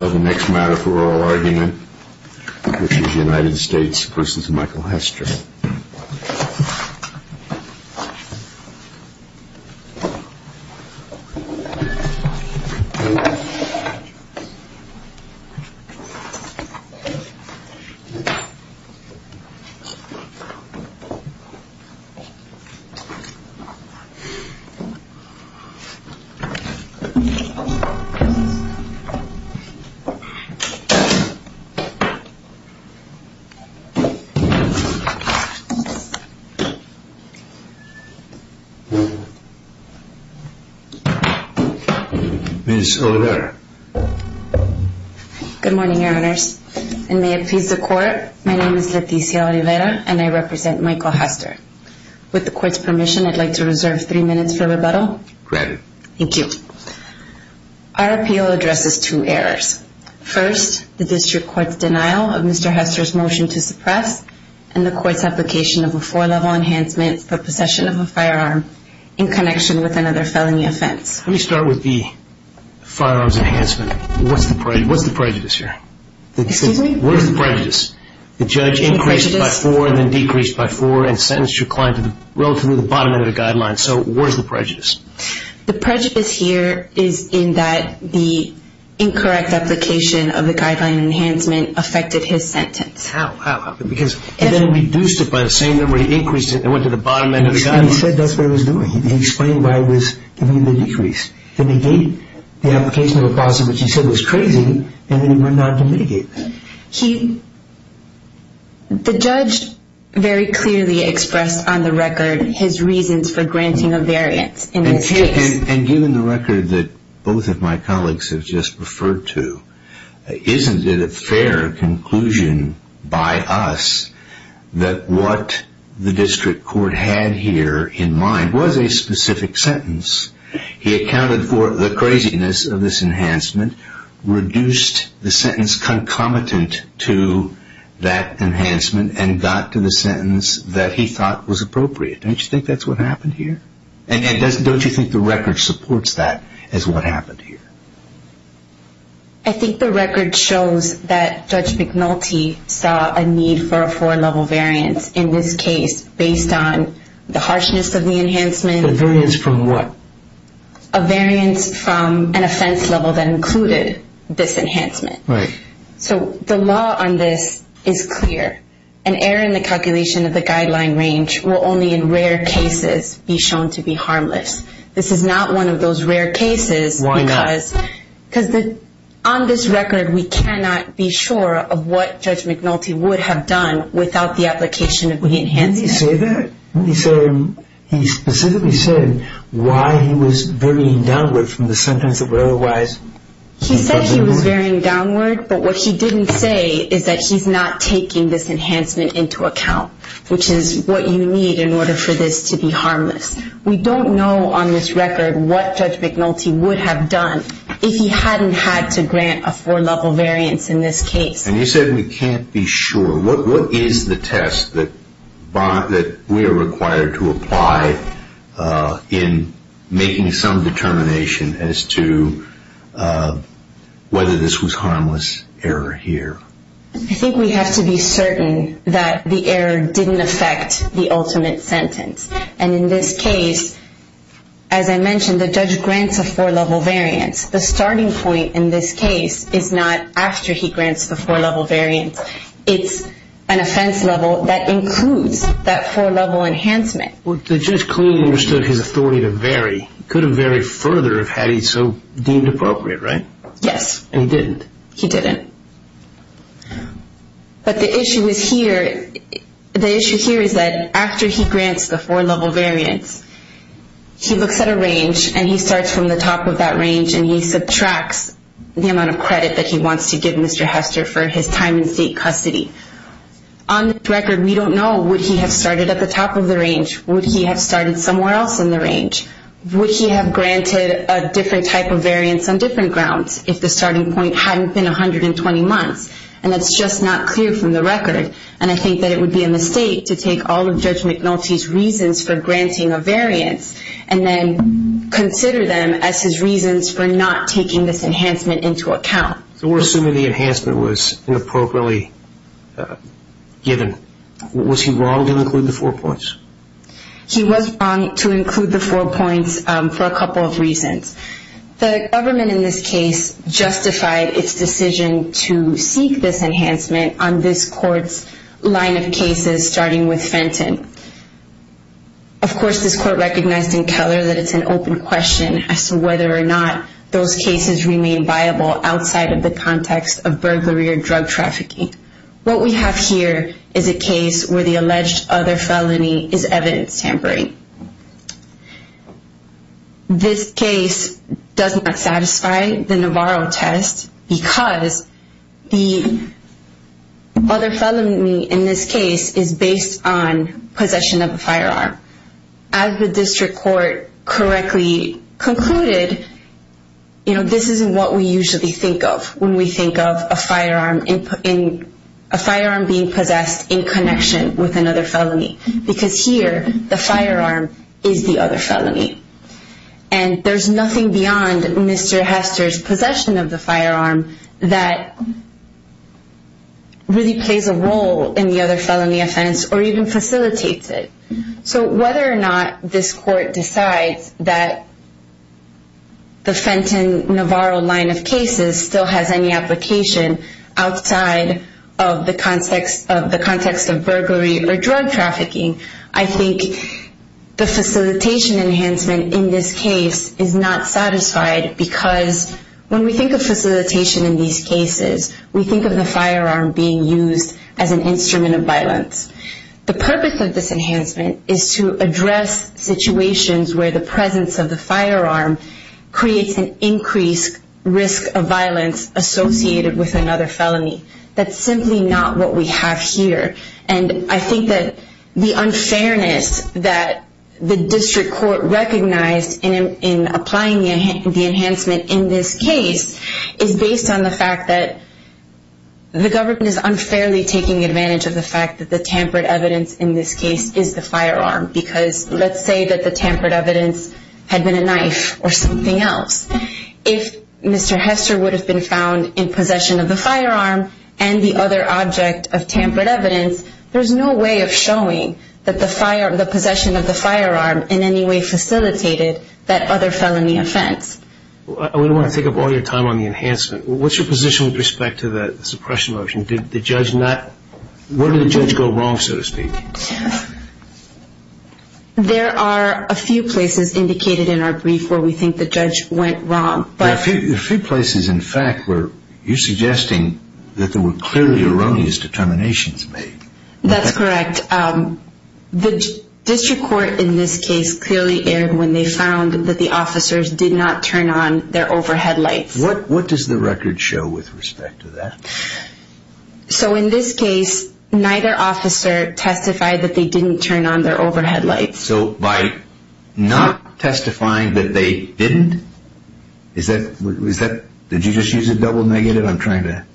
The next matter for oral argument is the United States v. Michael Hester. Leticia Olivera Good morning, Your Honors, and may it please the Court, my name is Leticia Olivera and I represent Michael Hester. With the Court's permission, I'd like to reserve three minutes for rebuttal. Thank you. Our appeal addresses two errors. First, the District Court's denial of Mr. Hester's motion to suppress and the Court's application of a four-level enhancement for possession of a firearm in connection with another felony offense. Let me start with the firearms enhancement. What's the prejudice here? Excuse me? Where's the prejudice? The judge increased by four and then decreased by four and sentenced your client to relatively the bottom end of the guideline, so where's the prejudice? The prejudice here is in that the incorrect application of the guideline enhancement affected his sentence. How? How? Because he then reduced it by the same number, he increased it and went to the bottom end of the guideline. He said that's what he was doing. He explained why he was giving the decrease. Then he gave the application of a possession, which he said was crazy, and then he went on to mitigate that. The judge very clearly expressed on the record his reasons for granting a variance in this case. And given the record that both of my colleagues have just referred to, isn't it a fair conclusion by us that what the District Court had here in mind was a specific sentence? He accounted for the craziness of this enhancement, reduced the sentence concomitant to that enhancement and got to the sentence that he thought was appropriate. Don't you think that's what happened here? And don't you think the record supports that as what happened here? I think the record shows that Judge McNulty saw a need for a four-level variance in this case based on the harshness of the enhancement. The variance from what? A variance from an offense level that included this enhancement. Right. So the law on this is clear. An error in the calculation of the guideline range will only in rare cases be shown to be harmless. This is not one of those rare cases because on this record we cannot be sure of what Judge McNulty would have done without the application of the enhancement. Didn't he say that? Didn't he specifically say why he was varying downward from the sentence that were otherwise? He said he was varying downward, but what he didn't say is that he's not taking this enhancement into account, which is what you need in order for this to be harmless. We don't know on this record what Judge McNulty would have done if he hadn't had to grant a four-level variance in this case. And you said we can't be sure. What is the test that we are required to apply in making some determination as to whether this was harmless error here? I think we have to be certain that the error didn't affect the ultimate sentence. And in this case, as I mentioned, the judge grants a four-level variance. The starting point in this case is not after he grants the four-level variance. It's an offense level that includes that four-level enhancement. Well, the judge clearly understood his authority to vary. He could have varied further had he so deemed appropriate, right? Yes. And he didn't? He didn't. But the issue is here, the issue here is that after he grants the four-level variance, he looks at a range and he starts from the top of that range and he subtracts the amount of credit that he wants to give Mr. Hester for his time in state custody. On this record, we don't know. Would he have started at the top of the range? Would he have started somewhere else in the range? Would he have granted a different type of variance on different grounds if the starting point hadn't been 120 months? And that's just not clear from the record. And I think that it would be a mistake to take all of the reasons for granting a variance and then consider them as his reasons for not taking this enhancement into account. So we're assuming the enhancement was inappropriately given. Was he wrong to include the four points? He was wrong to include the four points for a couple of reasons. The government in this case justified its decision to seek this enhancement on this court's line of cases starting with Of course, this court recognized in Keller that it's an open question as to whether or not those cases remain viable outside of the context of burglary or drug trafficking. What we have here is a case where the alleged other felony is evidence tampering. This case does not satisfy the Navarro test because the other felony in this case is based on As the district court correctly concluded, this isn't what we usually think of when we think of a firearm being possessed in connection with another felony. Because here, the firearm is the other felony. And there's nothing beyond Mr. Hester's possession of the firearm that really plays a role in the other felony offense or even facilitates it. So whether or not this court decides that the Fenton-Navarro line of cases still has any application outside of the context of burglary or drug trafficking, I think the facilitation enhancement in this case is not satisfied because when we think of facilitation in these cases, we think of the firearm being used as an instrument of violence. The purpose of this enhancement is to address situations where the presence of the firearm creates an increased risk of violence associated with another felony. That's simply not what we have here. And I think that the unfairness that the district court recognized in applying the enhancement in this case is based on the fact that the government is unfairly taking advantage of the fact that the tampered evidence in this case is the firearm. Because let's say that the tampered evidence had been a knife or something else. If Mr. Hester would have been found in possession of the firearm and the other object of tampered evidence, there's no way of showing that the possession of the firearm in any way facilitated that other felony offense. I wouldn't want to take up all your time on the enhancement. What's your position with respect to the suppression motion? Did the judge not, where did the judge go wrong, so to speak? There are a few places indicated in our brief where we think the judge went wrong. There are a few places in fact where you're suggesting that there were clearly erroneous determinations made. That's correct. The district court in this case clearly erred when they found that the officers did not turn on their overhead lights. What does the record show with respect to that? So in this case, neither officer testified that they didn't turn on their overhead lights. So by not testifying that they didn't, is that, did you just use a double negative? I'm trying to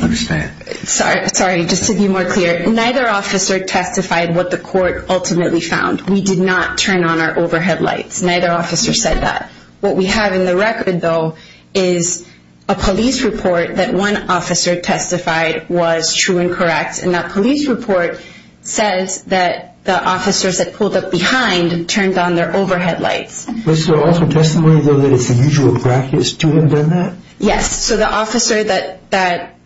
understand. Sorry, just to be more clear. Neither officer testified what the court ultimately found. We did not turn on our overhead lights. Neither officer said that. What we have in the record, though, is a police report that one officer testified was true and correct. And that police report says that the officers that pulled up behind turned on their overhead lights. Was there also testimony, though, that it's unusual practice to have done that? Yes. So the officer that...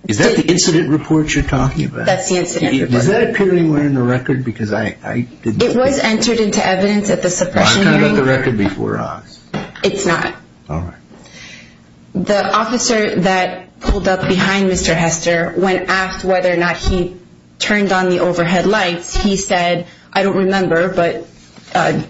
Is that the incident report you're talking about? That's the incident report. Does that appear anywhere in the record? Because I didn't... It was entered into evidence at the suppression hearing. I've counted the record before us. It's not. All right. The officer that pulled up behind Mr. Hester, when asked whether or not he turned on the overhead lights, he said, I don't remember, but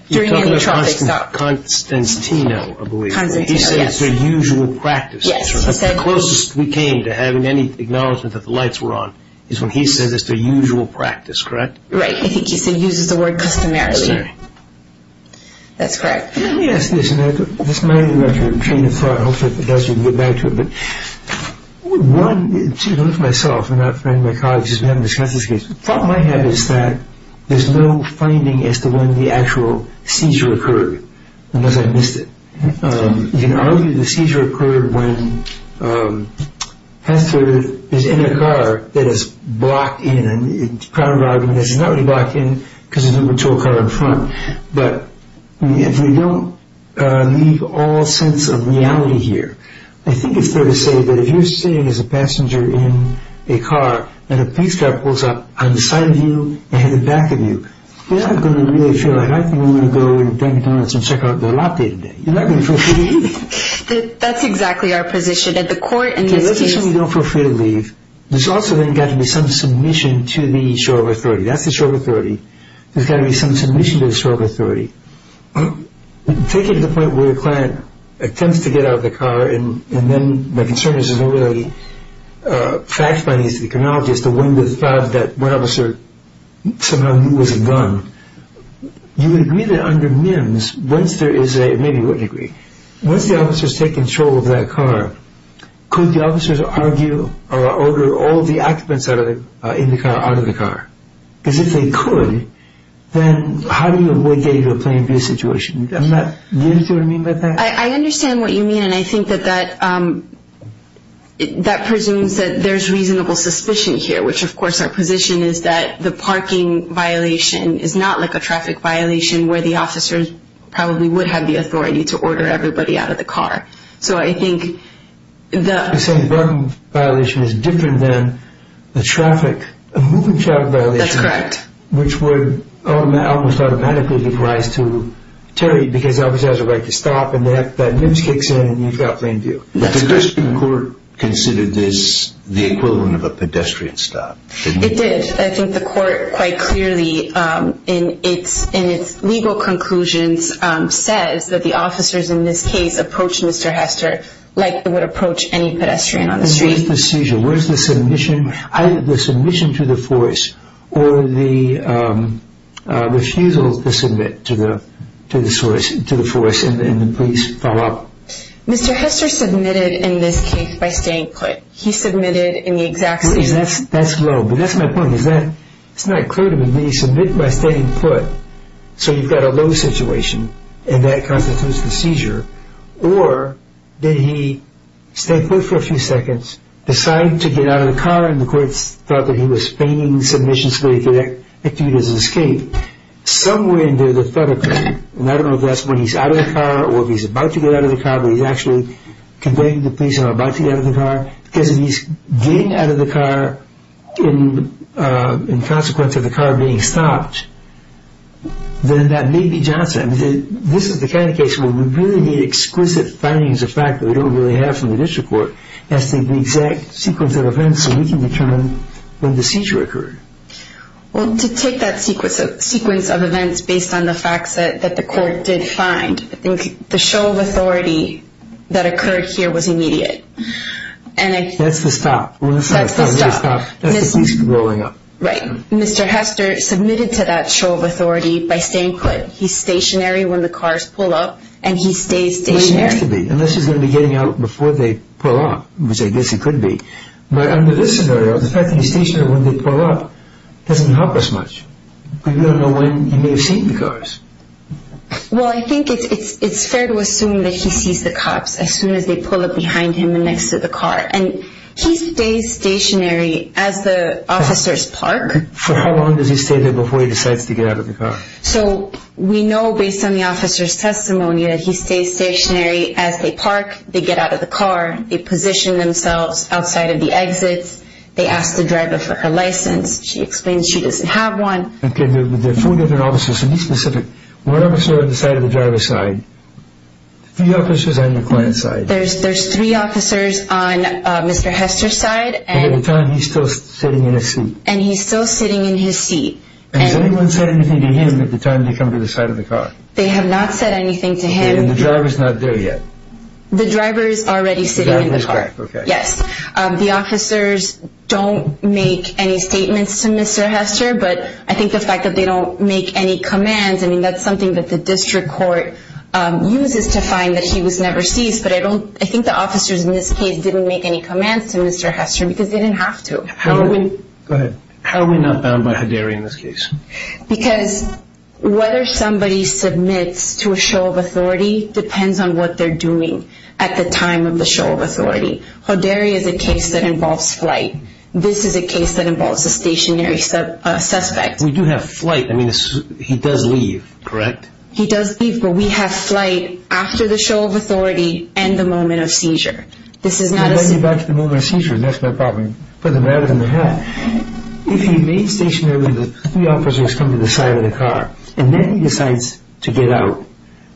during a traffic stop. You're talking about Constantino, I believe. Constantino, yes. He said it's their usual practice. Yes, he said... The closest we came to having any acknowledgment that the lights were on is when he said it's their usual practice, correct? Right. I think he said he uses the word customarily. That's right. That's correct. Let me ask this, and this might be a little bit of a train of thought. Hopefully, if it does, we can get back to it. But one, to look at myself, I'm not a friend of my colleagues, we haven't discussed this case. The problem I have is that there's no finding as to when the actual seizure occurred, unless I missed it. You can argue the seizure occurred when Hester is in a car that is blocked in, and the primary argument is it's not really blocked in because there's no patrol car in front. But if we don't leave all sense of reality here, I think it's fair to say that if you're sitting as a passenger in a car, and a police car pulls up on the side of you and in the back of you, you're not going to really feel like, I think I'm going to go to Dunkin' Donuts and check out their latte today. You're not going to feel free to leave. That's exactly our position. At the court... In this case, we don't feel free to leave. There's also then got to be some submission to the show of authority. That's the show of authority. There's got to be some submission to the show of authority. Take it to the point where a client attempts to get out of the car, and then my concern is there's no really fact-finding as to the chronology as to when the thought that one officer somehow knew it was a gun. You would agree that under MIMS, once there is a... Maybe you wouldn't agree. Once the officers take control of that car, could the officers argue or order all the occupants in the car out of the car? Because if they could, then how do you get into a plain view situation? Do you understand what I mean by that? I understand what you mean, and I think that that presumes that there's reasonable suspicion here, which of course our position is that the parking violation is not like a traffic violation where the officers probably would have the authority to order everybody out of the car. So I think that... You're saying the parking violation is different than the traffic, a moving traffic violation... That's correct. ...which would almost automatically give rise to terrorism because the officer has a right to stop and that MIMS kicks in and you've got plain view. That's correct. Did the Christian Court consider this the equivalent of a pedestrian stop? It did. I think the court quite clearly in its legal conclusions says that the officers in this case approached Mr. Hester like they would approach any pedestrian on the street. Where's the seizure? Where's the submission? Either the submission to the force or the refusal to submit to the force and the police follow up. Mr. Hester submitted in this case by staying put. He submitted in the exact same way. That's low, but that's my point. It's not clear to me. Did he submit by staying put so you've got a low situation and that constitutes the seizure or did he stay put for a few seconds, decide to get out of the car and the courts thought that he was feigning submission so they could execute his escape somewhere near the federal court. I don't know if that's when he's out of the car or if he's about to get out of the car, but he's actually conveying to the police that he's about to get out of the car. Because if he's getting out of the car in consequence of the car being stopped, then that may be Johnson. This is the kind of case where we really need exquisite findings of fact that we don't really have from the district court as to the exact sequence of events so we can determine when the seizure occurred. Well, to take that sequence of events based on the facts that the court did find, I think the show of authority that occurred here was immediate. That's the stop. That's the stop. That's the police rolling up. Right. Mr. Hester submitted to that show of authority by staying put. He's stationary when the cars pull up and he stays stationary. Well, he has to be unless he's going to be getting out before they pull up, which I guess he could be. But under this scenario, the fact that he's stationary when they pull up doesn't help us much. We don't know when he may have seen the cars. Well, I think it's fair to assume that he sees the cops as soon as they pull up behind him and next to the car. And he stays stationary as the officers park. For how long does he stay there before he decides to get out of the car? So we know based on the officer's testimony that he stays stationary as they park, they get out of the car, they position themselves outside of the exit, they ask the driver for her license. She explains she doesn't have one. Okay. There are four different officers. So be specific. One officer on the side of the driver's side. A few officers on the client's side. There's three officers on Mr. Hester's side. And at the time he's still sitting in his seat. And he's still sitting in his seat. Has anyone said anything to him at the time they come to the side of the car? They have not said anything to him. And the driver's not there yet. The driver's already sitting in the car. The driver's back, okay. Yes. The officers don't make any statements to Mr. Hester, but I think the fact that they don't make any commands, I mean, that's something that the district court uses to find that he was never seized. But I think the officers in this case didn't make any commands to Mr. Hester because they didn't have to. How are we not bound by Hoderi in this case? Because whether somebody submits to a show of authority depends on what they're doing at the time of the show of authority. Hoderi is a case that involves flight. This is a case that involves a stationary suspect. We do have flight. I mean, he does leave, correct? He does leave, but we have flight after the show of authority and the moment of seizure. This is not a seizure. I'll get back to the moment of seizure. That's my problem. Put the matter in the hat. If he made stationary, the officers come to the side of the car, and then he decides to get out,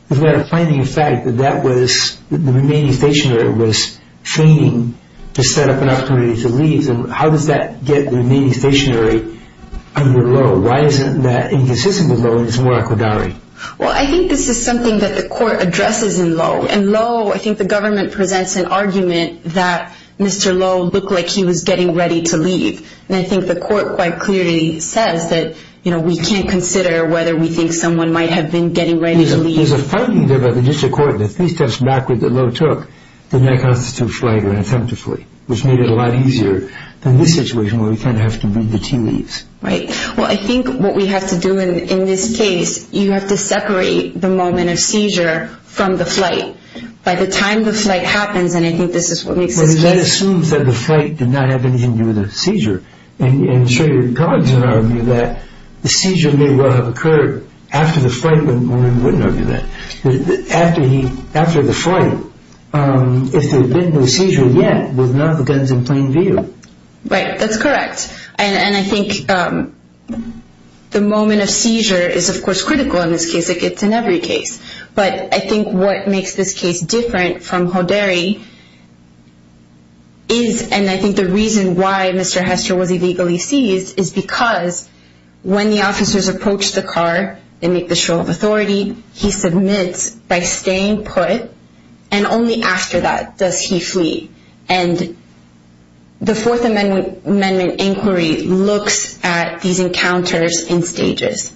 is that a finding of fact that the remaining stationary was fainting to set up an opportunity to leave? How does that get the remaining stationary under Lowe? Why isn't that inconsistent with Lowe and it's more Hoderi? Well, I think this is something that the court addresses in Lowe. In Lowe, I think the government presents an argument that Mr. Lowe looked like he was getting ready to leave. And I think the court quite clearly says that we can't consider whether we think that someone might have been getting ready to leave. There's a finding there by the district court that three steps backward that Lowe took did not constitute flight unattemptively, which made it a lot easier than this situation where we kind of have to read the tea leaves. Right. Well, I think what we have to do in this case, you have to separate the moment of seizure from the flight. By the time the flight happens, and I think this is what makes this case. Well, that assumes that the flight did not have anything to do with the seizure. And I'm sure your colleagues would argue that the seizure may well have occurred after the flight, but we wouldn't argue that. After the flight, if there had been no seizure yet, there would not have been guns in plain view. Right, that's correct. And I think the moment of seizure is, of course, critical in this case. It's in every case. But I think what makes this case different from Hoderi is, and I think the reason why Mr. Hester was illegally seized is because when the officers approach the car and make the show of authority, he submits by staying put, and only after that does he flee. And the Fourth Amendment inquiry looks at these encounters in stages.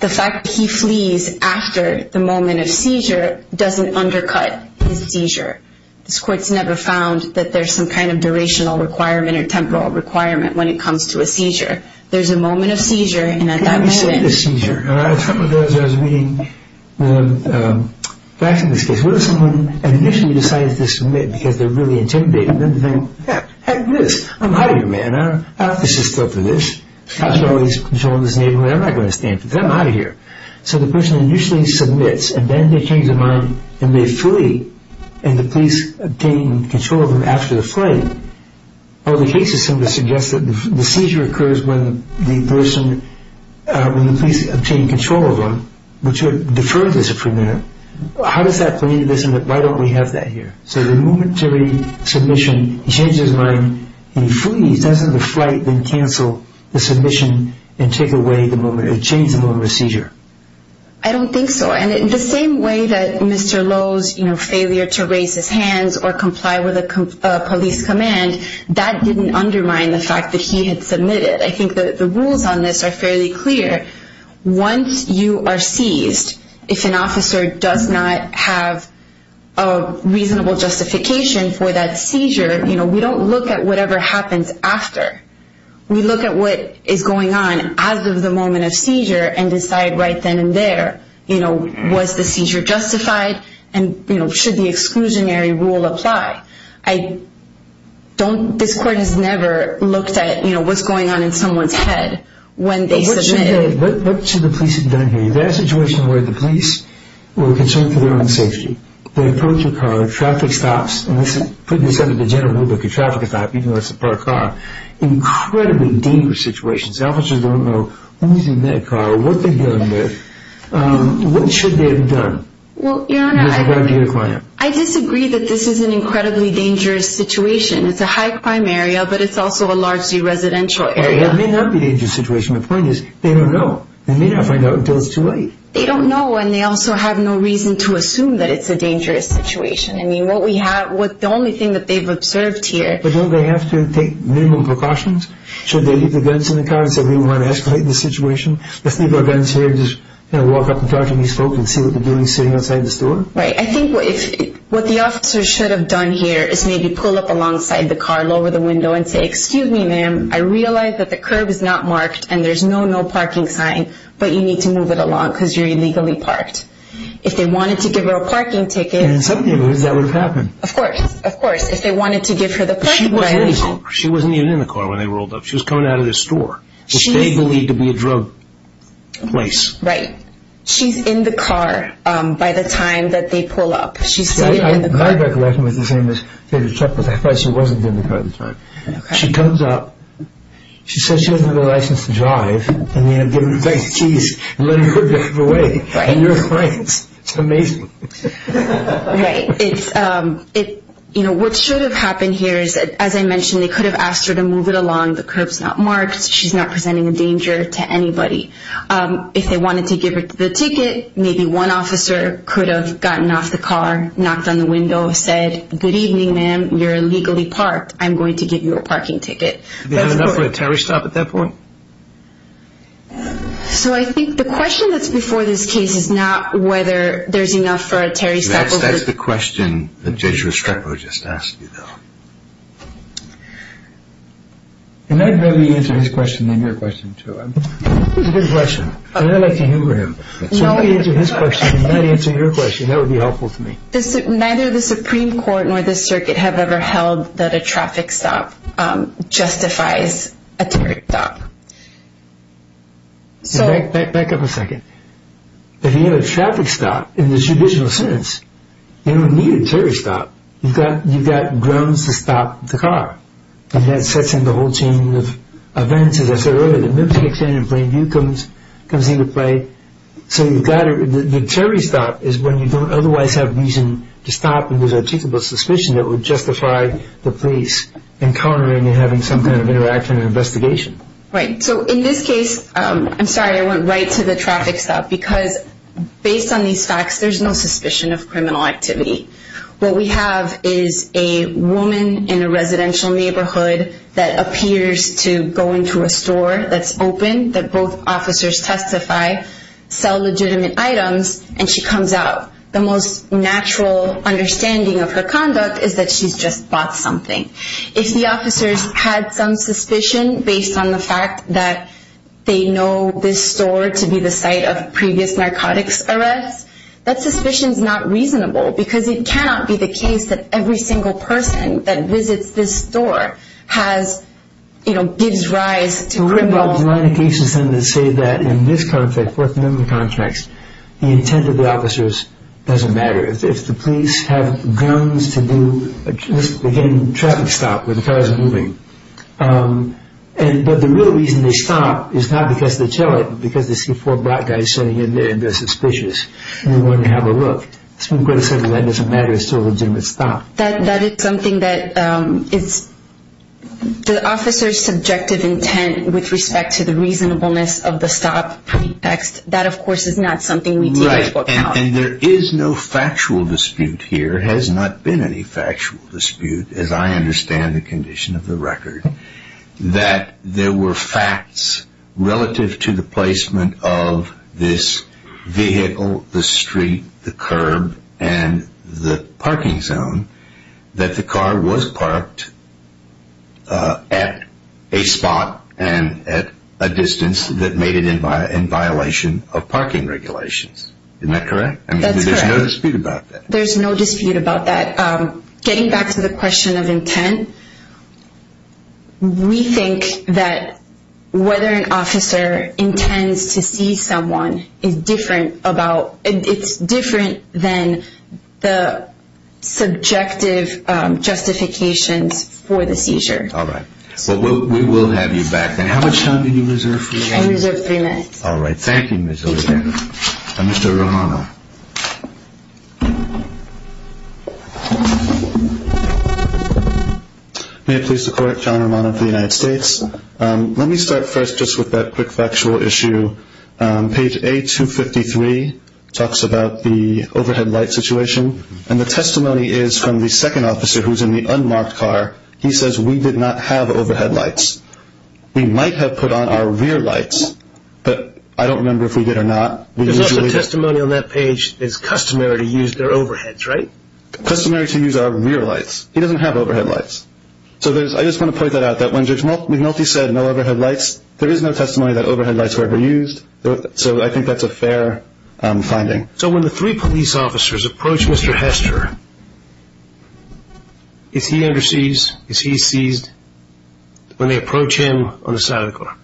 The fact that he flees after the moment of seizure doesn't undercut his seizure. This court's never found that there's some kind of durational requirement or temporal requirement when it comes to a seizure. There's a moment of seizure, and at that moment— Let me say the seizure. And I was talking about this when I was reading the facts of this case. What if someone initially decides to submit because they're really intimidated, and then they think, heck, this, I'm out of here, man. I don't have to sit still for this. The cops are always controlling this neighborhood. I'm not going to stand for this. I'm out of here. So the person initially submits, and then they change their mind, and they flee, and the police obtain control of them after the flight. Other cases, some of them suggest that the seizure occurs when the person, when the police obtain control of them, which would defer this for a minute. How does that play into this and why don't we have that here? So the momentary submission, he changes his mind, he flees. Doesn't the flight then cancel the submission and take away the moment, or change the moment of seizure? I don't think so. And in the same way that Mr. Lowe's failure to raise his hands or comply with a police command, that didn't undermine the fact that he had submitted. I think the rules on this are fairly clear. Once you are seized, if an officer does not have a reasonable justification for that seizure, we don't look at whatever happens after. We look at what is going on as of the moment of seizure and decide right then and there, you know, was the seizure justified and, you know, should the exclusionary rule apply. I don't, this court has never looked at, you know, what's going on in someone's head when they submitted. What should the police have done here? If there's a situation where the police were concerned for their own safety, they approach a car, traffic stops, and this is putting this under the general rubric of traffic stop, even though it's a parked car, incredibly dangerous situations. Officers don't know who's in that car or what they're dealing with. What should they have done? Well, Your Honor, I disagree that this is an incredibly dangerous situation. It's a high crime area, but it's also a largely residential area. It may not be a dangerous situation. The point is they don't know. They may not find out until it's too late. They don't know, and they also have no reason to assume that it's a dangerous situation. I mean, what we have, the only thing that they've observed here. But don't they have to take minimum precautions? Should they leave the guns in the car and say we want to escalate the situation? Let's leave our guns here and just, you know, walk up and talk to these folks and see what they're doing sitting outside the store? Right. I think what the officers should have done here is maybe pull up alongside the car, lower the window, and say, excuse me, ma'am, I realize that the curb is not marked and there's no no parking sign, but you need to move it along because you're illegally parked. If they wanted to give her a parking ticket. And in some neighborhoods that would have happened. Of course, of course. If they wanted to give her the parking violation. She wasn't even in the car when they rolled up. She was coming out of the store, which they believed to be a drug place. Right. She's in the car by the time that they pull up. She's sitting in the car. My recollection was the same as David's. I thought she wasn't in the car at the time. She comes up, she says she doesn't have a license to drive, and they give her the keys and let her drive away. And you're fine. It's amazing. Right. You know, what should have happened here is, as I mentioned, they could have asked her to move it along. The curb's not marked. She's not presenting a danger to anybody. If they wanted to give her the ticket, maybe one officer could have gotten off the car, knocked on the window, said, good evening, ma'am, you're illegally parked. I'm going to give you a parking ticket. Did they have enough for a tariff stop at that point? So I think the question that's before this case is not whether there's enough for a tariff stop. That's the question that Judge Restrepo just asked you, though. And I'd rather you answer his question than your question, too. This is a good question, and I'd like to hear him. So if I answer his question and you answer your question, that would be helpful to me. Neither the Supreme Court nor the circuit have ever held that a traffic stop justifies a tariff stop. Back up a second. If you have a traffic stop in the judicial sentence, you don't need a tariff stop. You've got grounds to stop the car. And that sets in the whole chain of events. As I said earlier, the Mips kicks in and Plainview comes into play. So the tariff stop is when you don't otherwise have reason to stop and there's a reasonable suspicion that would justify the police encountering and having some kind of interaction and investigation. Right. So in this case, I'm sorry, I went right to the traffic stop, because based on these facts, there's no suspicion of criminal activity. What we have is a woman in a residential neighborhood that appears to go into a store that's open, that both officers testify, sell legitimate items, and she comes out. The most natural understanding of her conduct is that she's just bought something. If the officers had some suspicion based on the fact that they know this store to be the site of a previous narcotics arrest, that suspicion is not reasonable, because it cannot be the case that every single person that visits this store gives rise to criminal activity. There's a line of cases then that say that in this contract, Fourth Amendment contracts, the intent of the officers doesn't matter. If the police have guns to do, again, a traffic stop where the cars are moving, but the real reason they stop is not because they tell it, but because they see four black guys sitting in there and they're suspicious and they want to have a look. That doesn't matter, it's still a legitimate stop. That is something that is the officer's subjective intent with respect to the reasonableness of the stop text. That, of course, is not something we deal with right now. And there is no factual dispute here. There has not been any factual dispute, as I understand the condition of the record, that there were facts relative to the placement of this vehicle, the street, the curb, and the parking zone, that the car was parked at a spot and at a distance that made it in violation of parking regulations. Isn't that correct? That's correct. There's no dispute about that. There's no dispute about that. Getting back to the question of intent, we think that whether an officer intends to see someone is different than the subjective justifications for the seizure. All right. We will have you back then. How much time do you reserve for me? I reserve three minutes. All right. Thank you, Ms. Olita. Thank you. Mr. Romano. May it please the Court, John Romano for the United States. Let me start first just with that quick factual issue. Page A253 talks about the overhead light situation, and the testimony is from the second officer who's in the unmarked car. He says, we did not have overhead lights. We might have put on our rear lights, but I don't remember if we did or not. There's also testimony on that page that it's customary to use their overheads, right? Customary to use our rear lights. He doesn't have overhead lights. So I just want to point that out, that when Judge McNulty said no overhead lights, there is no testimony that overhead lights were ever used. So I think that's a fair finding. So when the three police officers approach Mr. Hester, is he underseized? Is he seized when they approach him on the side of the car?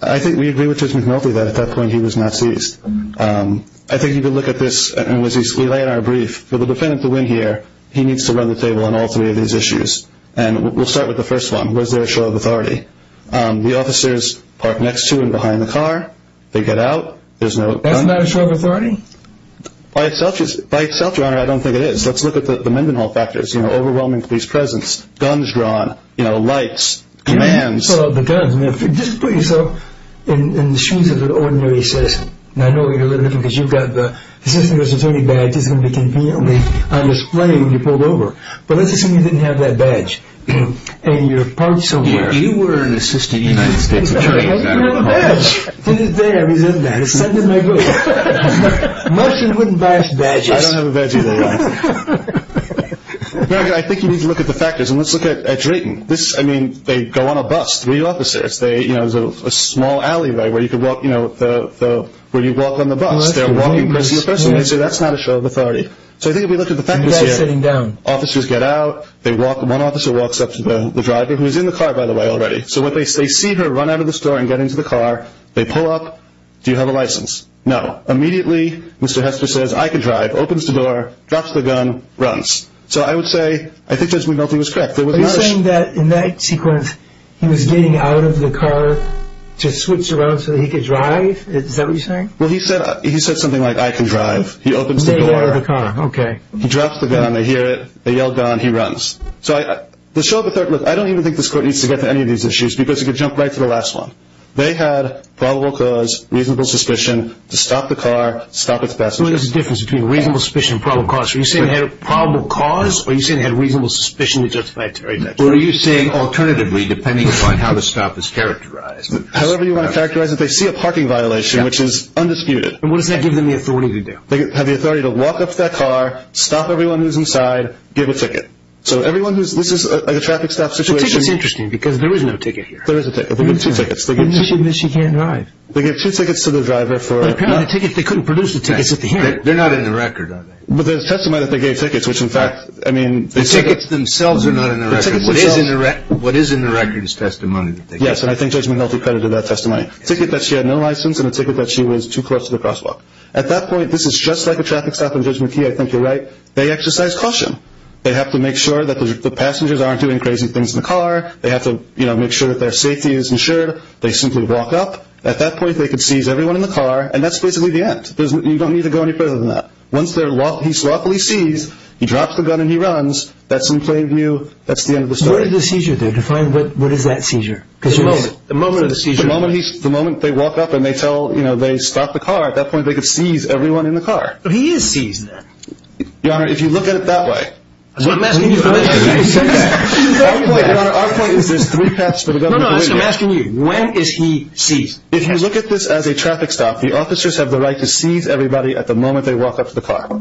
I think we agree with Judge McNulty that at that point he was not seized. I think if you look at this, and we lay in our brief, for the defendant to win here, he needs to run the table on all three of these issues. And we'll start with the first one. Was there a show of authority? The officers park next to and behind the car. They get out. Isn't that a show of authority? By itself, Your Honor, I don't think it is. Let's look at the Mendenhall factors, you know, overwhelming police presence, guns drawn, you know, lights, commands. Just put yourself in the shoes of an ordinary citizen. I know what you're looking at because you've got the Assistant Attorney badge that's going to be conveniently on display when you're pulled over. But let's assume you didn't have that badge and you're parked somewhere. You were an Assistant United States Attorney. I didn't have a badge. To this day, I resent that. It's something I grew up with. Mushrooms wouldn't buy us badges. I don't have a badge either, Your Honor. I think you need to look at the factors. And let's look at Drayton. This, I mean, they go on a bus, three officers. There's a small alleyway where you could walk, you know, where you walk on the bus. They're walking and they see a person. They say, that's not a show of authority. So I think if we look at the factors here, officers get out. One officer walks up to the driver, who's in the car, by the way, already. So they see her run out of the store and get into the car. They pull up. Do you have a license? No. Immediately, Mr. Hester says, I can drive, opens the door, drops the gun, runs. So I would say, I think Judge McNulty was correct. Are you saying that in that sequence, he was getting out of the car to switch around so that he could drive? Is that what you're saying? Well, he said something like, I can drive. He opens the door. They get out of the car. Okay. He drops the gun. They hear it. They yell down. He runs. So the show of authority, look, I don't even think this court needs to get to any of these issues because it could jump right to the last one. They had probable cause, reasonable suspicion to stop the car, stop its passenger. What is the difference between reasonable suspicion and probable cause? Are you saying they had a probable cause, or are you saying they had reasonable suspicion to justify a taxi? What are you saying alternatively, depending upon how the stop is characterized? However you want to characterize it, they see a parking violation, which is undisputed. And what does that give them the authority to do? They have the authority to walk up to that car, stop everyone who's inside, give a ticket. So everyone who's – this is like a traffic stop situation. The ticket's interesting because there is no ticket here. There is a ticket. They give two tickets. But she can't drive. They give two tickets to the driver for – They couldn't produce the tickets at the hearing. They're not in the record, are they? But there's testimony that they gave tickets, which in fact – The tickets themselves are not in the record. What is in the record is testimony. Yes, and I think Judge McNulty credited that testimony. A ticket that she had no license and a ticket that she was too close to the crosswalk. At that point, this is just like a traffic stop in Judge McKee. I think you're right. They exercise caution. They have to make sure that the passengers aren't doing crazy things in the car. They have to make sure that their safety is ensured. They simply walk up. At that point, they could seize everyone in the car, and that's basically the end. You don't need to go any further than that. Once he's lawfully seized, he drops the gun and he runs. That's in plain view. That's the end of the story. What does a seizure do? Define what is that seizure. The moment of the seizure. The moment they walk up and they stop the car. At that point, they could seize everyone in the car. He is seized then. Your Honor, if you look at it that way – That's what I'm asking you for this hearing. Our point, Your Honor, our point is there's three paths for the government. No, no, that's what I'm asking you. When is he seized? If you look at this as a traffic stop, the officers have the right to seize everybody at the moment they walk up to the car.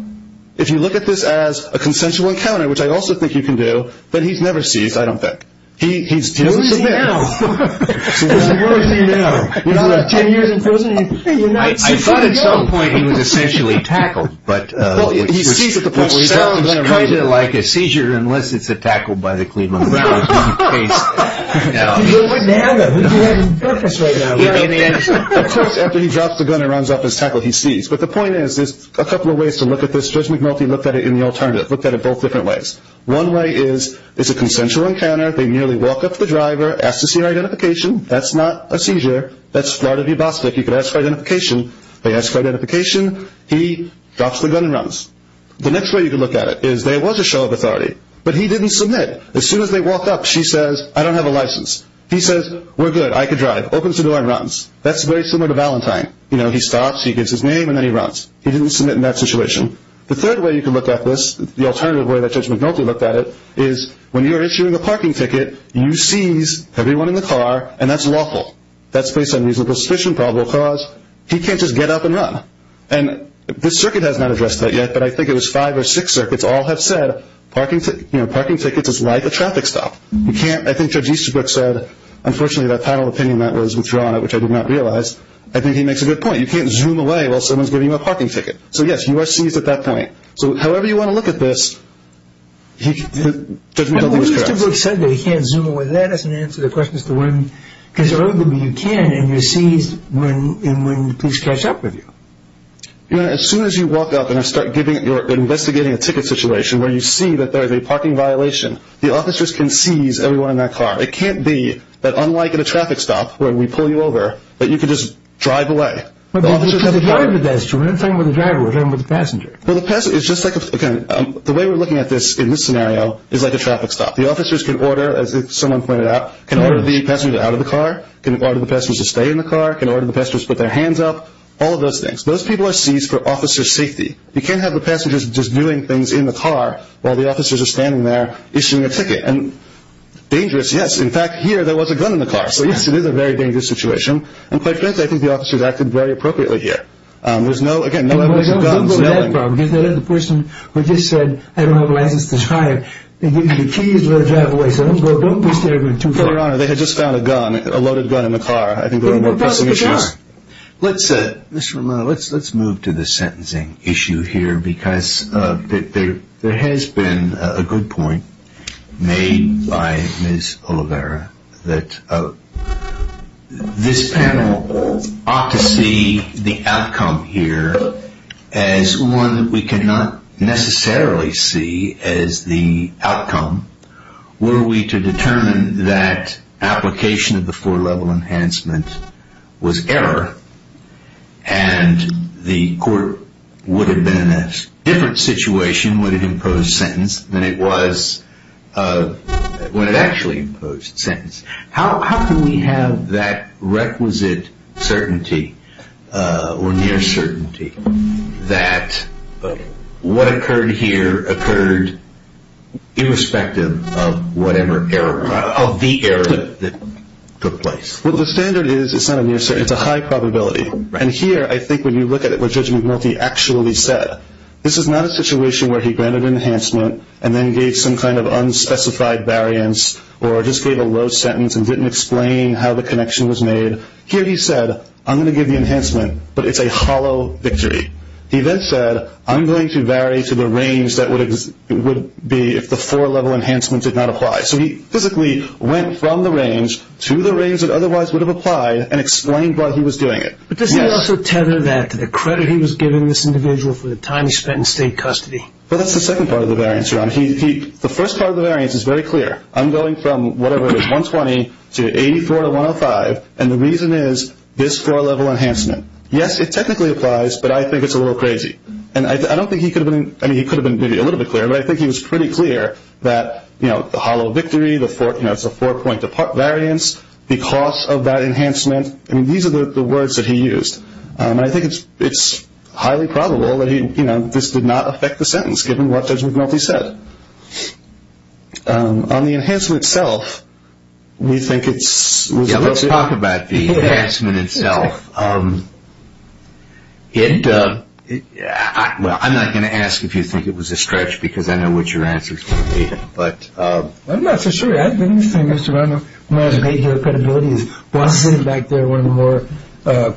If you look at this as a consensual encounter, which I also think you can do, but he's never seized, I don't think. He doesn't submit. So where is he now? So where is he now? He's been in prison for 10 years and he's not seized? I thought at some point he was essentially tackled. Well, he's seized at the point where he's not. It's kind of like a seizure unless it's a tackle by the Cleveland Browns. He wouldn't have it. He'd be having breakfast right now. Of course, after he drops the gun and runs off his tackle, he's seized. But the point is there's a couple of ways to look at this. Judge McMulty looked at it in the alternative, looked at it both different ways. One way is it's a consensual encounter. They merely walk up to the driver, ask to see her identification. That's not a seizure. That's Florida v. Bostick. You could ask for identification. They ask for identification. He drops the gun and runs. The next way you could look at it is there was a show of authority, but he didn't submit. As soon as they walked up, she says, I don't have a license. He says, we're good. I could drive. Opens the door and runs. That's very similar to Valentine. He stops, he gives his name, and then he runs. He didn't submit in that situation. The third way you could look at this, the alternative way that Judge McMulty looked at it, is when you're issuing a parking ticket, you seize everyone in the car, and that's lawful. That's based on reasonable suspicion, probable cause. He can't just get up and run. And this circuit has not addressed that yet, but I think it was five or six circuits all have said parking tickets is like a traffic stop. I think Judge Easterbrook said, unfortunately, that panel opinion that was withdrawn, which I did not realize, I think he makes a good point. You can't zoom away while someone's giving you a parking ticket. So, yes, you are seized at that point. So however you want to look at this, Judge McMulty was correct. Well, Easterbrook said that he can't zoom away. That doesn't answer the question as to when. Because arguably you can, and you're seized when police catch up with you. As soon as you walk up and start investigating a ticket situation where you see that there is a parking violation, the officers can seize everyone in that car. It can't be that unlike at a traffic stop where we pull you over, that you can just drive away. But we're talking about the driver. We're not talking about the driver. We're talking about the passenger. The way we're looking at this in this scenario is like a traffic stop. The officers can order, as someone pointed out, can order the passenger out of the car, can order the passengers to stay in the car, can order the passengers to put their hands up, all of those things. Those people are seized for officer safety. You can't have the passengers just doing things in the car while the officers are standing there. Issuing a ticket. And dangerous, yes. In fact, here there was a gun in the car. So, yes, it is a very dangerous situation. And quite frankly, I think the officers acted very appropriately here. There's no, again, no evidence of guns. The person who just said, I don't have a license to drive, they gave me the keys to let me drive away. So don't push the argument too far. Your Honor, they had just found a gun, a loaded gun in the car. I think there were more pressing issues. Let's move to the sentencing issue here because there has been a good point made by Ms. Oliveira that this panel ought to see the outcome here as one we cannot necessarily see as the outcome were we to determine that application of the four-level enhancement was error and the court would have been in a different situation would have imposed sentence than it was when it actually imposed sentence. How can we have that requisite certainty or near certainty that what occurred here occurred irrespective of whatever error, of the error that took place? Well, the standard is it's not a near certainty. It's a high probability. And here, I think when you look at it, what Judge McMulty actually said, this is not a situation where he granted enhancement and then gave some kind of unspecified variance or just gave a low sentence and didn't explain how the connection was made. Here he said, I'm going to give you enhancement, but it's a hollow victory. He then said, I'm going to vary to the range that would be if the four-level enhancement did not apply. So he physically went from the range to the range that otherwise would have applied and explained why he was doing it. But doesn't he also tether that to the credit he was giving this individual for the time he spent in state custody? Well, that's the second part of the variance, Your Honor. The first part of the variance is very clear. I'm going from whatever it is, 120 to 84 to 105, and the reason is this four-level enhancement. Yes, it technically applies, but I think it's a little crazy. And I don't think he could have been – I mean, he could have been maybe a little bit clearer, but I think he was pretty clear that, you know, the hollow victory, the four – you know, it's a four-point variance because of that enhancement. I mean, these are the words that he used. And I think it's highly probable that he – you know, this did not affect the sentence, given what Judge McMulty said. But on the enhancement itself, we think it's – Yeah, let's talk about the enhancement itself. It – well, I'm not going to ask if you think it was a stretch because I know what your answer is going to be, but – I'm not so sure. I think the thing, Mr. Brown, when I was made here, the credibility is Boston is back there one of the more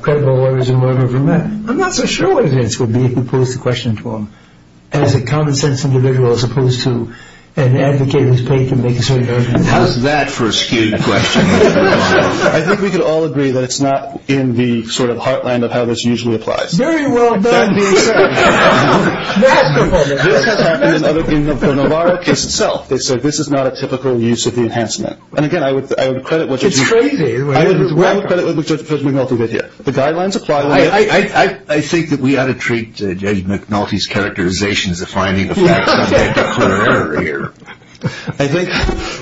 credible lawyers in the world I've ever met. I'm not so sure what his answer would be if you posed the question to him. As a common-sense individual as opposed to an advocate who's paid to make a certain argument. How's that for a skewed question? I think we could all agree that it's not in the sort of heartland of how this usually applies. Very well done. This has happened in the Navarro case itself. They said this is not a typical use of the enhancement. And again, I would credit what – It's crazy. I would credit what Judge McMulty did here. The guidelines apply. I think that we ought to treat Judge McMulty's characterization as a finding of facts. I think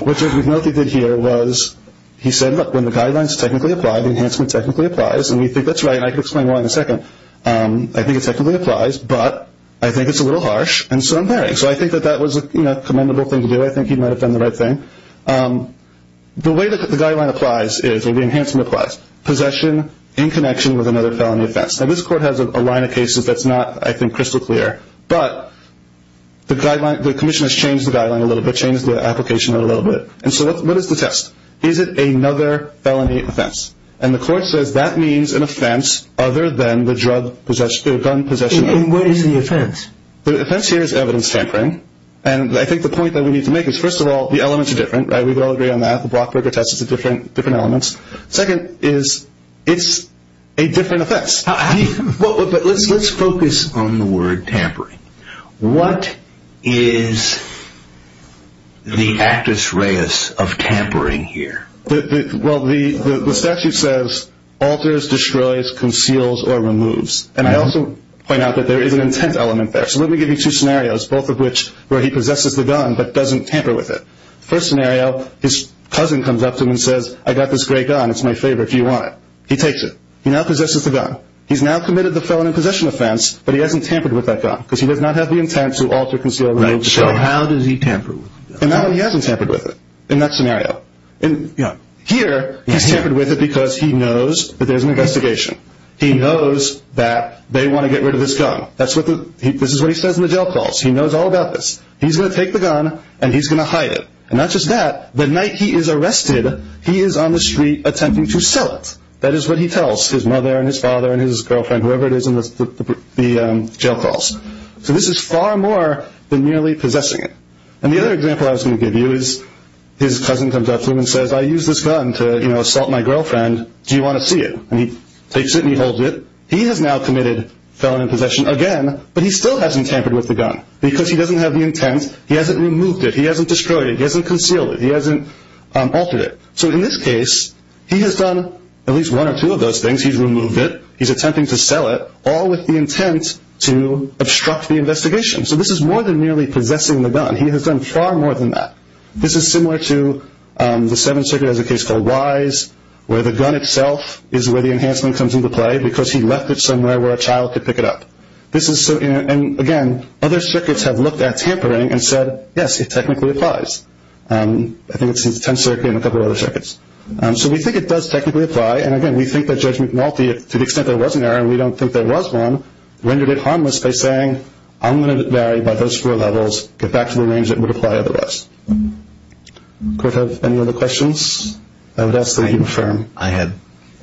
what Judge McMulty did here was he said, look, when the guidelines technically apply, the enhancement technically applies. And we think that's right, and I can explain why in a second. I think it technically applies, but I think it's a little harsh, and so I'm bearing. So I think that that was a commendable thing to do. I think he might have done the right thing. The way that the guideline applies is, or the enhancement applies, possession in connection with another felony offense. Now, this court has a line of cases that's not, I think, crystal clear, but the commission has changed the guideline a little bit, changed the application a little bit. And so what is the test? Is it another felony offense? And the court says that means an offense other than the drug possession, the gun possession. And what is the offense? The offense here is evidence tampering. And I think the point that we need to make is, first of all, the elements are different. We could all agree on that. The Blockberger test is a different element. Second is it's a different offense. But let's focus on the word tampering. What is the actus reus of tampering here? Well, the statute says, alters, destroys, conceals, or removes. And I also point out that there is an intent element there. So let me give you two scenarios, both of which where he possesses the gun but doesn't tamper with it. First scenario, his cousin comes up to him and says, I got this great gun. It's my favorite. Do you want it? He takes it. He now possesses the gun. He's now committed the felony possession offense, but he hasn't tampered with that gun because he does not have the intent to alter, conceal, or remove the gun. Right. So how does he tamper with the gun? He hasn't tampered with it in that scenario. Here, he's tampered with it because he knows that there's an investigation. He knows that they want to get rid of this gun. This is what he says in the jail calls. He knows all about this. He's going to take the gun and he's going to hide it. And not just that, the night he is arrested, he is on the street attempting to sell it. That is what he tells his mother and his father and his girlfriend, whoever it is, in the jail calls. So this is far more than merely possessing it. And the other example I was going to give you is his cousin comes up to him and says, I used this gun to, you know, assault my girlfriend. Do you want to see it? And he takes it and he holds it. He has now committed felony possession again, but he still hasn't tampered with the gun because he doesn't have the intent. He hasn't removed it. He hasn't destroyed it. He hasn't concealed it. He hasn't altered it. So in this case, he has done at least one or two of those things. He's removed it. He's attempting to sell it, all with the intent to obstruct the investigation. So this is more than merely possessing the gun. He has done far more than that. This is similar to the Seventh Circuit has a case called Wise, where the gun itself is where the enhancement comes into play because he left it somewhere where a child could pick it up. And, again, other circuits have looked at tampering and said, yes, it technically applies. I think it's the Tenth Circuit and a couple of other circuits. So we think it does technically apply. And, again, we think that Judge McNulty, to the extent there was an error and we don't think there was one, rendered it harmless by saying, I'm going to vary by those four levels, get back to the range that would apply otherwise. Court, have any other questions? I would ask that you confirm. I have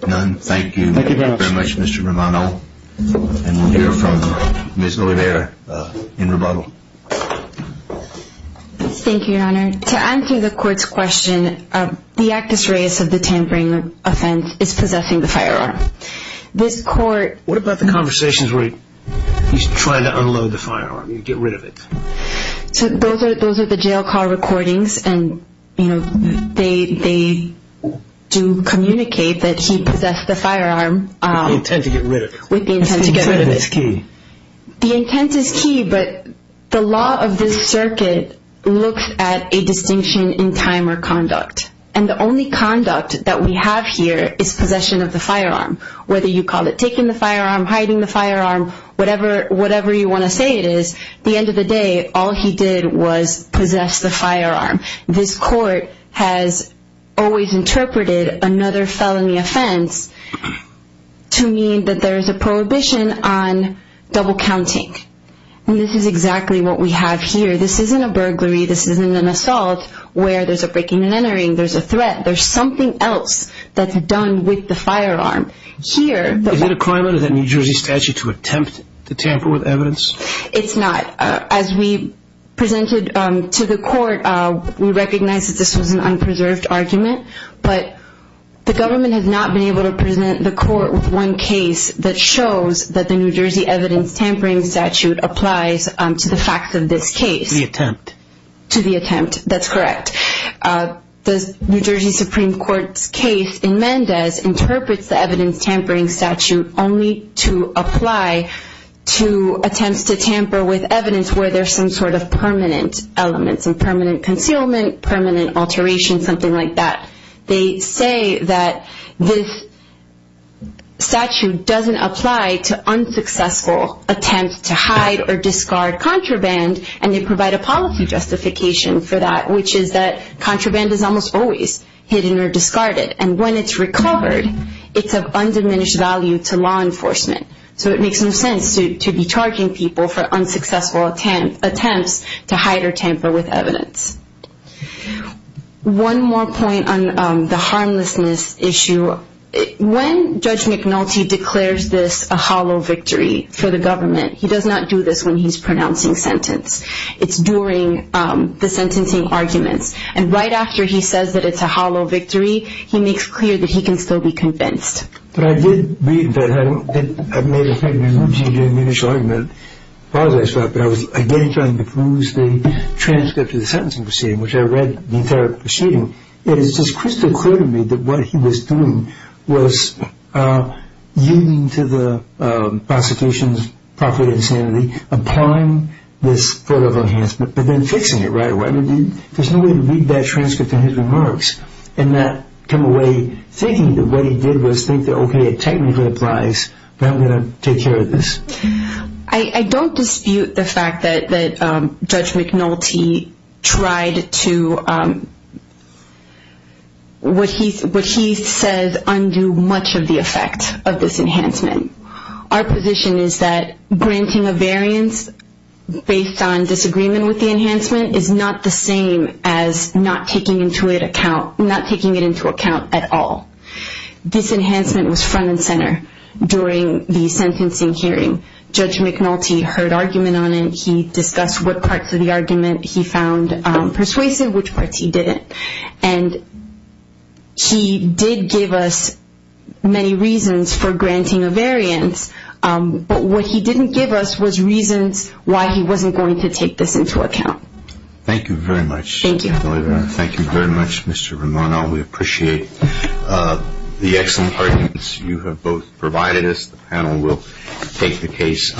none. Thank you very much, Mr. Romano. And we'll hear from Ms. Oliveira in rebuttal. Thank you, Your Honor. To answer the court's question, the actus reus of the tampering offense is possessing the firearm. This court— What about the conversations where he's trying to unload the firearm, get rid of it? Those are the jail call recordings, and they do communicate that he possessed the firearm. With the intent to get rid of it. With the intent to get rid of it. The intent is key. The intent is key, but the law of this circuit looks at a distinction in time or conduct. And the only conduct that we have here is possession of the firearm, whether you call it taking the firearm, hiding the firearm, whatever you want to say it is. At the end of the day, all he did was possess the firearm. This court has always interpreted another felony offense to mean that there is a prohibition on double counting. And this is exactly what we have here. This isn't a burglary. This isn't an assault where there's a breaking and entering. There's a threat. There's something else that's done with the firearm. Here— Is it a crime under the New Jersey statute to attempt to tamper with evidence? It's not. As we presented to the court, we recognize that this was an unpreserved argument. But the government has not been able to present the court with one case that shows that the New Jersey evidence tampering statute applies to the facts of this case. The attempt. To the attempt. That's correct. The New Jersey Supreme Court's case in Mendez interprets the evidence tampering statute only to apply to attempts to tamper with evidence where there's some sort of permanent elements, some permanent concealment, permanent alteration, something like that. They say that this statute doesn't apply to unsuccessful attempts to hide or discard contraband, and they provide a policy justification for that, which is that contraband is almost always hidden or discarded. And when it's recovered, it's of undiminished value to law enforcement. So it makes no sense to be charging people for unsuccessful attempts to hide or tamper with evidence. One more point on the harmlessness issue. When Judge McNulty declares this a hollow victory for the government, he does not do this when he's pronouncing sentence. It's during the sentencing arguments. And right after he says that it's a hollow victory, he makes clear that he can still be convinced. But I did read that. I made a point in the initial argument, as far as I saw it, but I was again trying to peruse the transcript of the sentencing proceeding, which I read the entire proceeding. It is just crystal clear to me that what he was doing was yielding to the prosecution's profit and sanity, applying this sort of enhancement, but then fixing it right away. There's no way to read that transcript in his remarks and not come away thinking that what he did was think that, okay, it technically applies, but I'm going to take care of this. I don't dispute the fact that Judge McNulty tried to, what he says, undo much of the effect of this enhancement. Our position is that granting a variance based on disagreement with the enhancement is not the same as not taking it into account at all. This enhancement was front and center during the sentencing hearing. Judge McNulty heard argument on it. He discussed what parts of the argument he found persuasive, which parts he didn't. And he did give us many reasons for granting a variance, but what he didn't give us was reasons why he wasn't going to take this into account. Thank you very much. Thank you. Thank you very much, Mr. Romano. We appreciate the excellent arguments you have both provided us. The panel will take the case.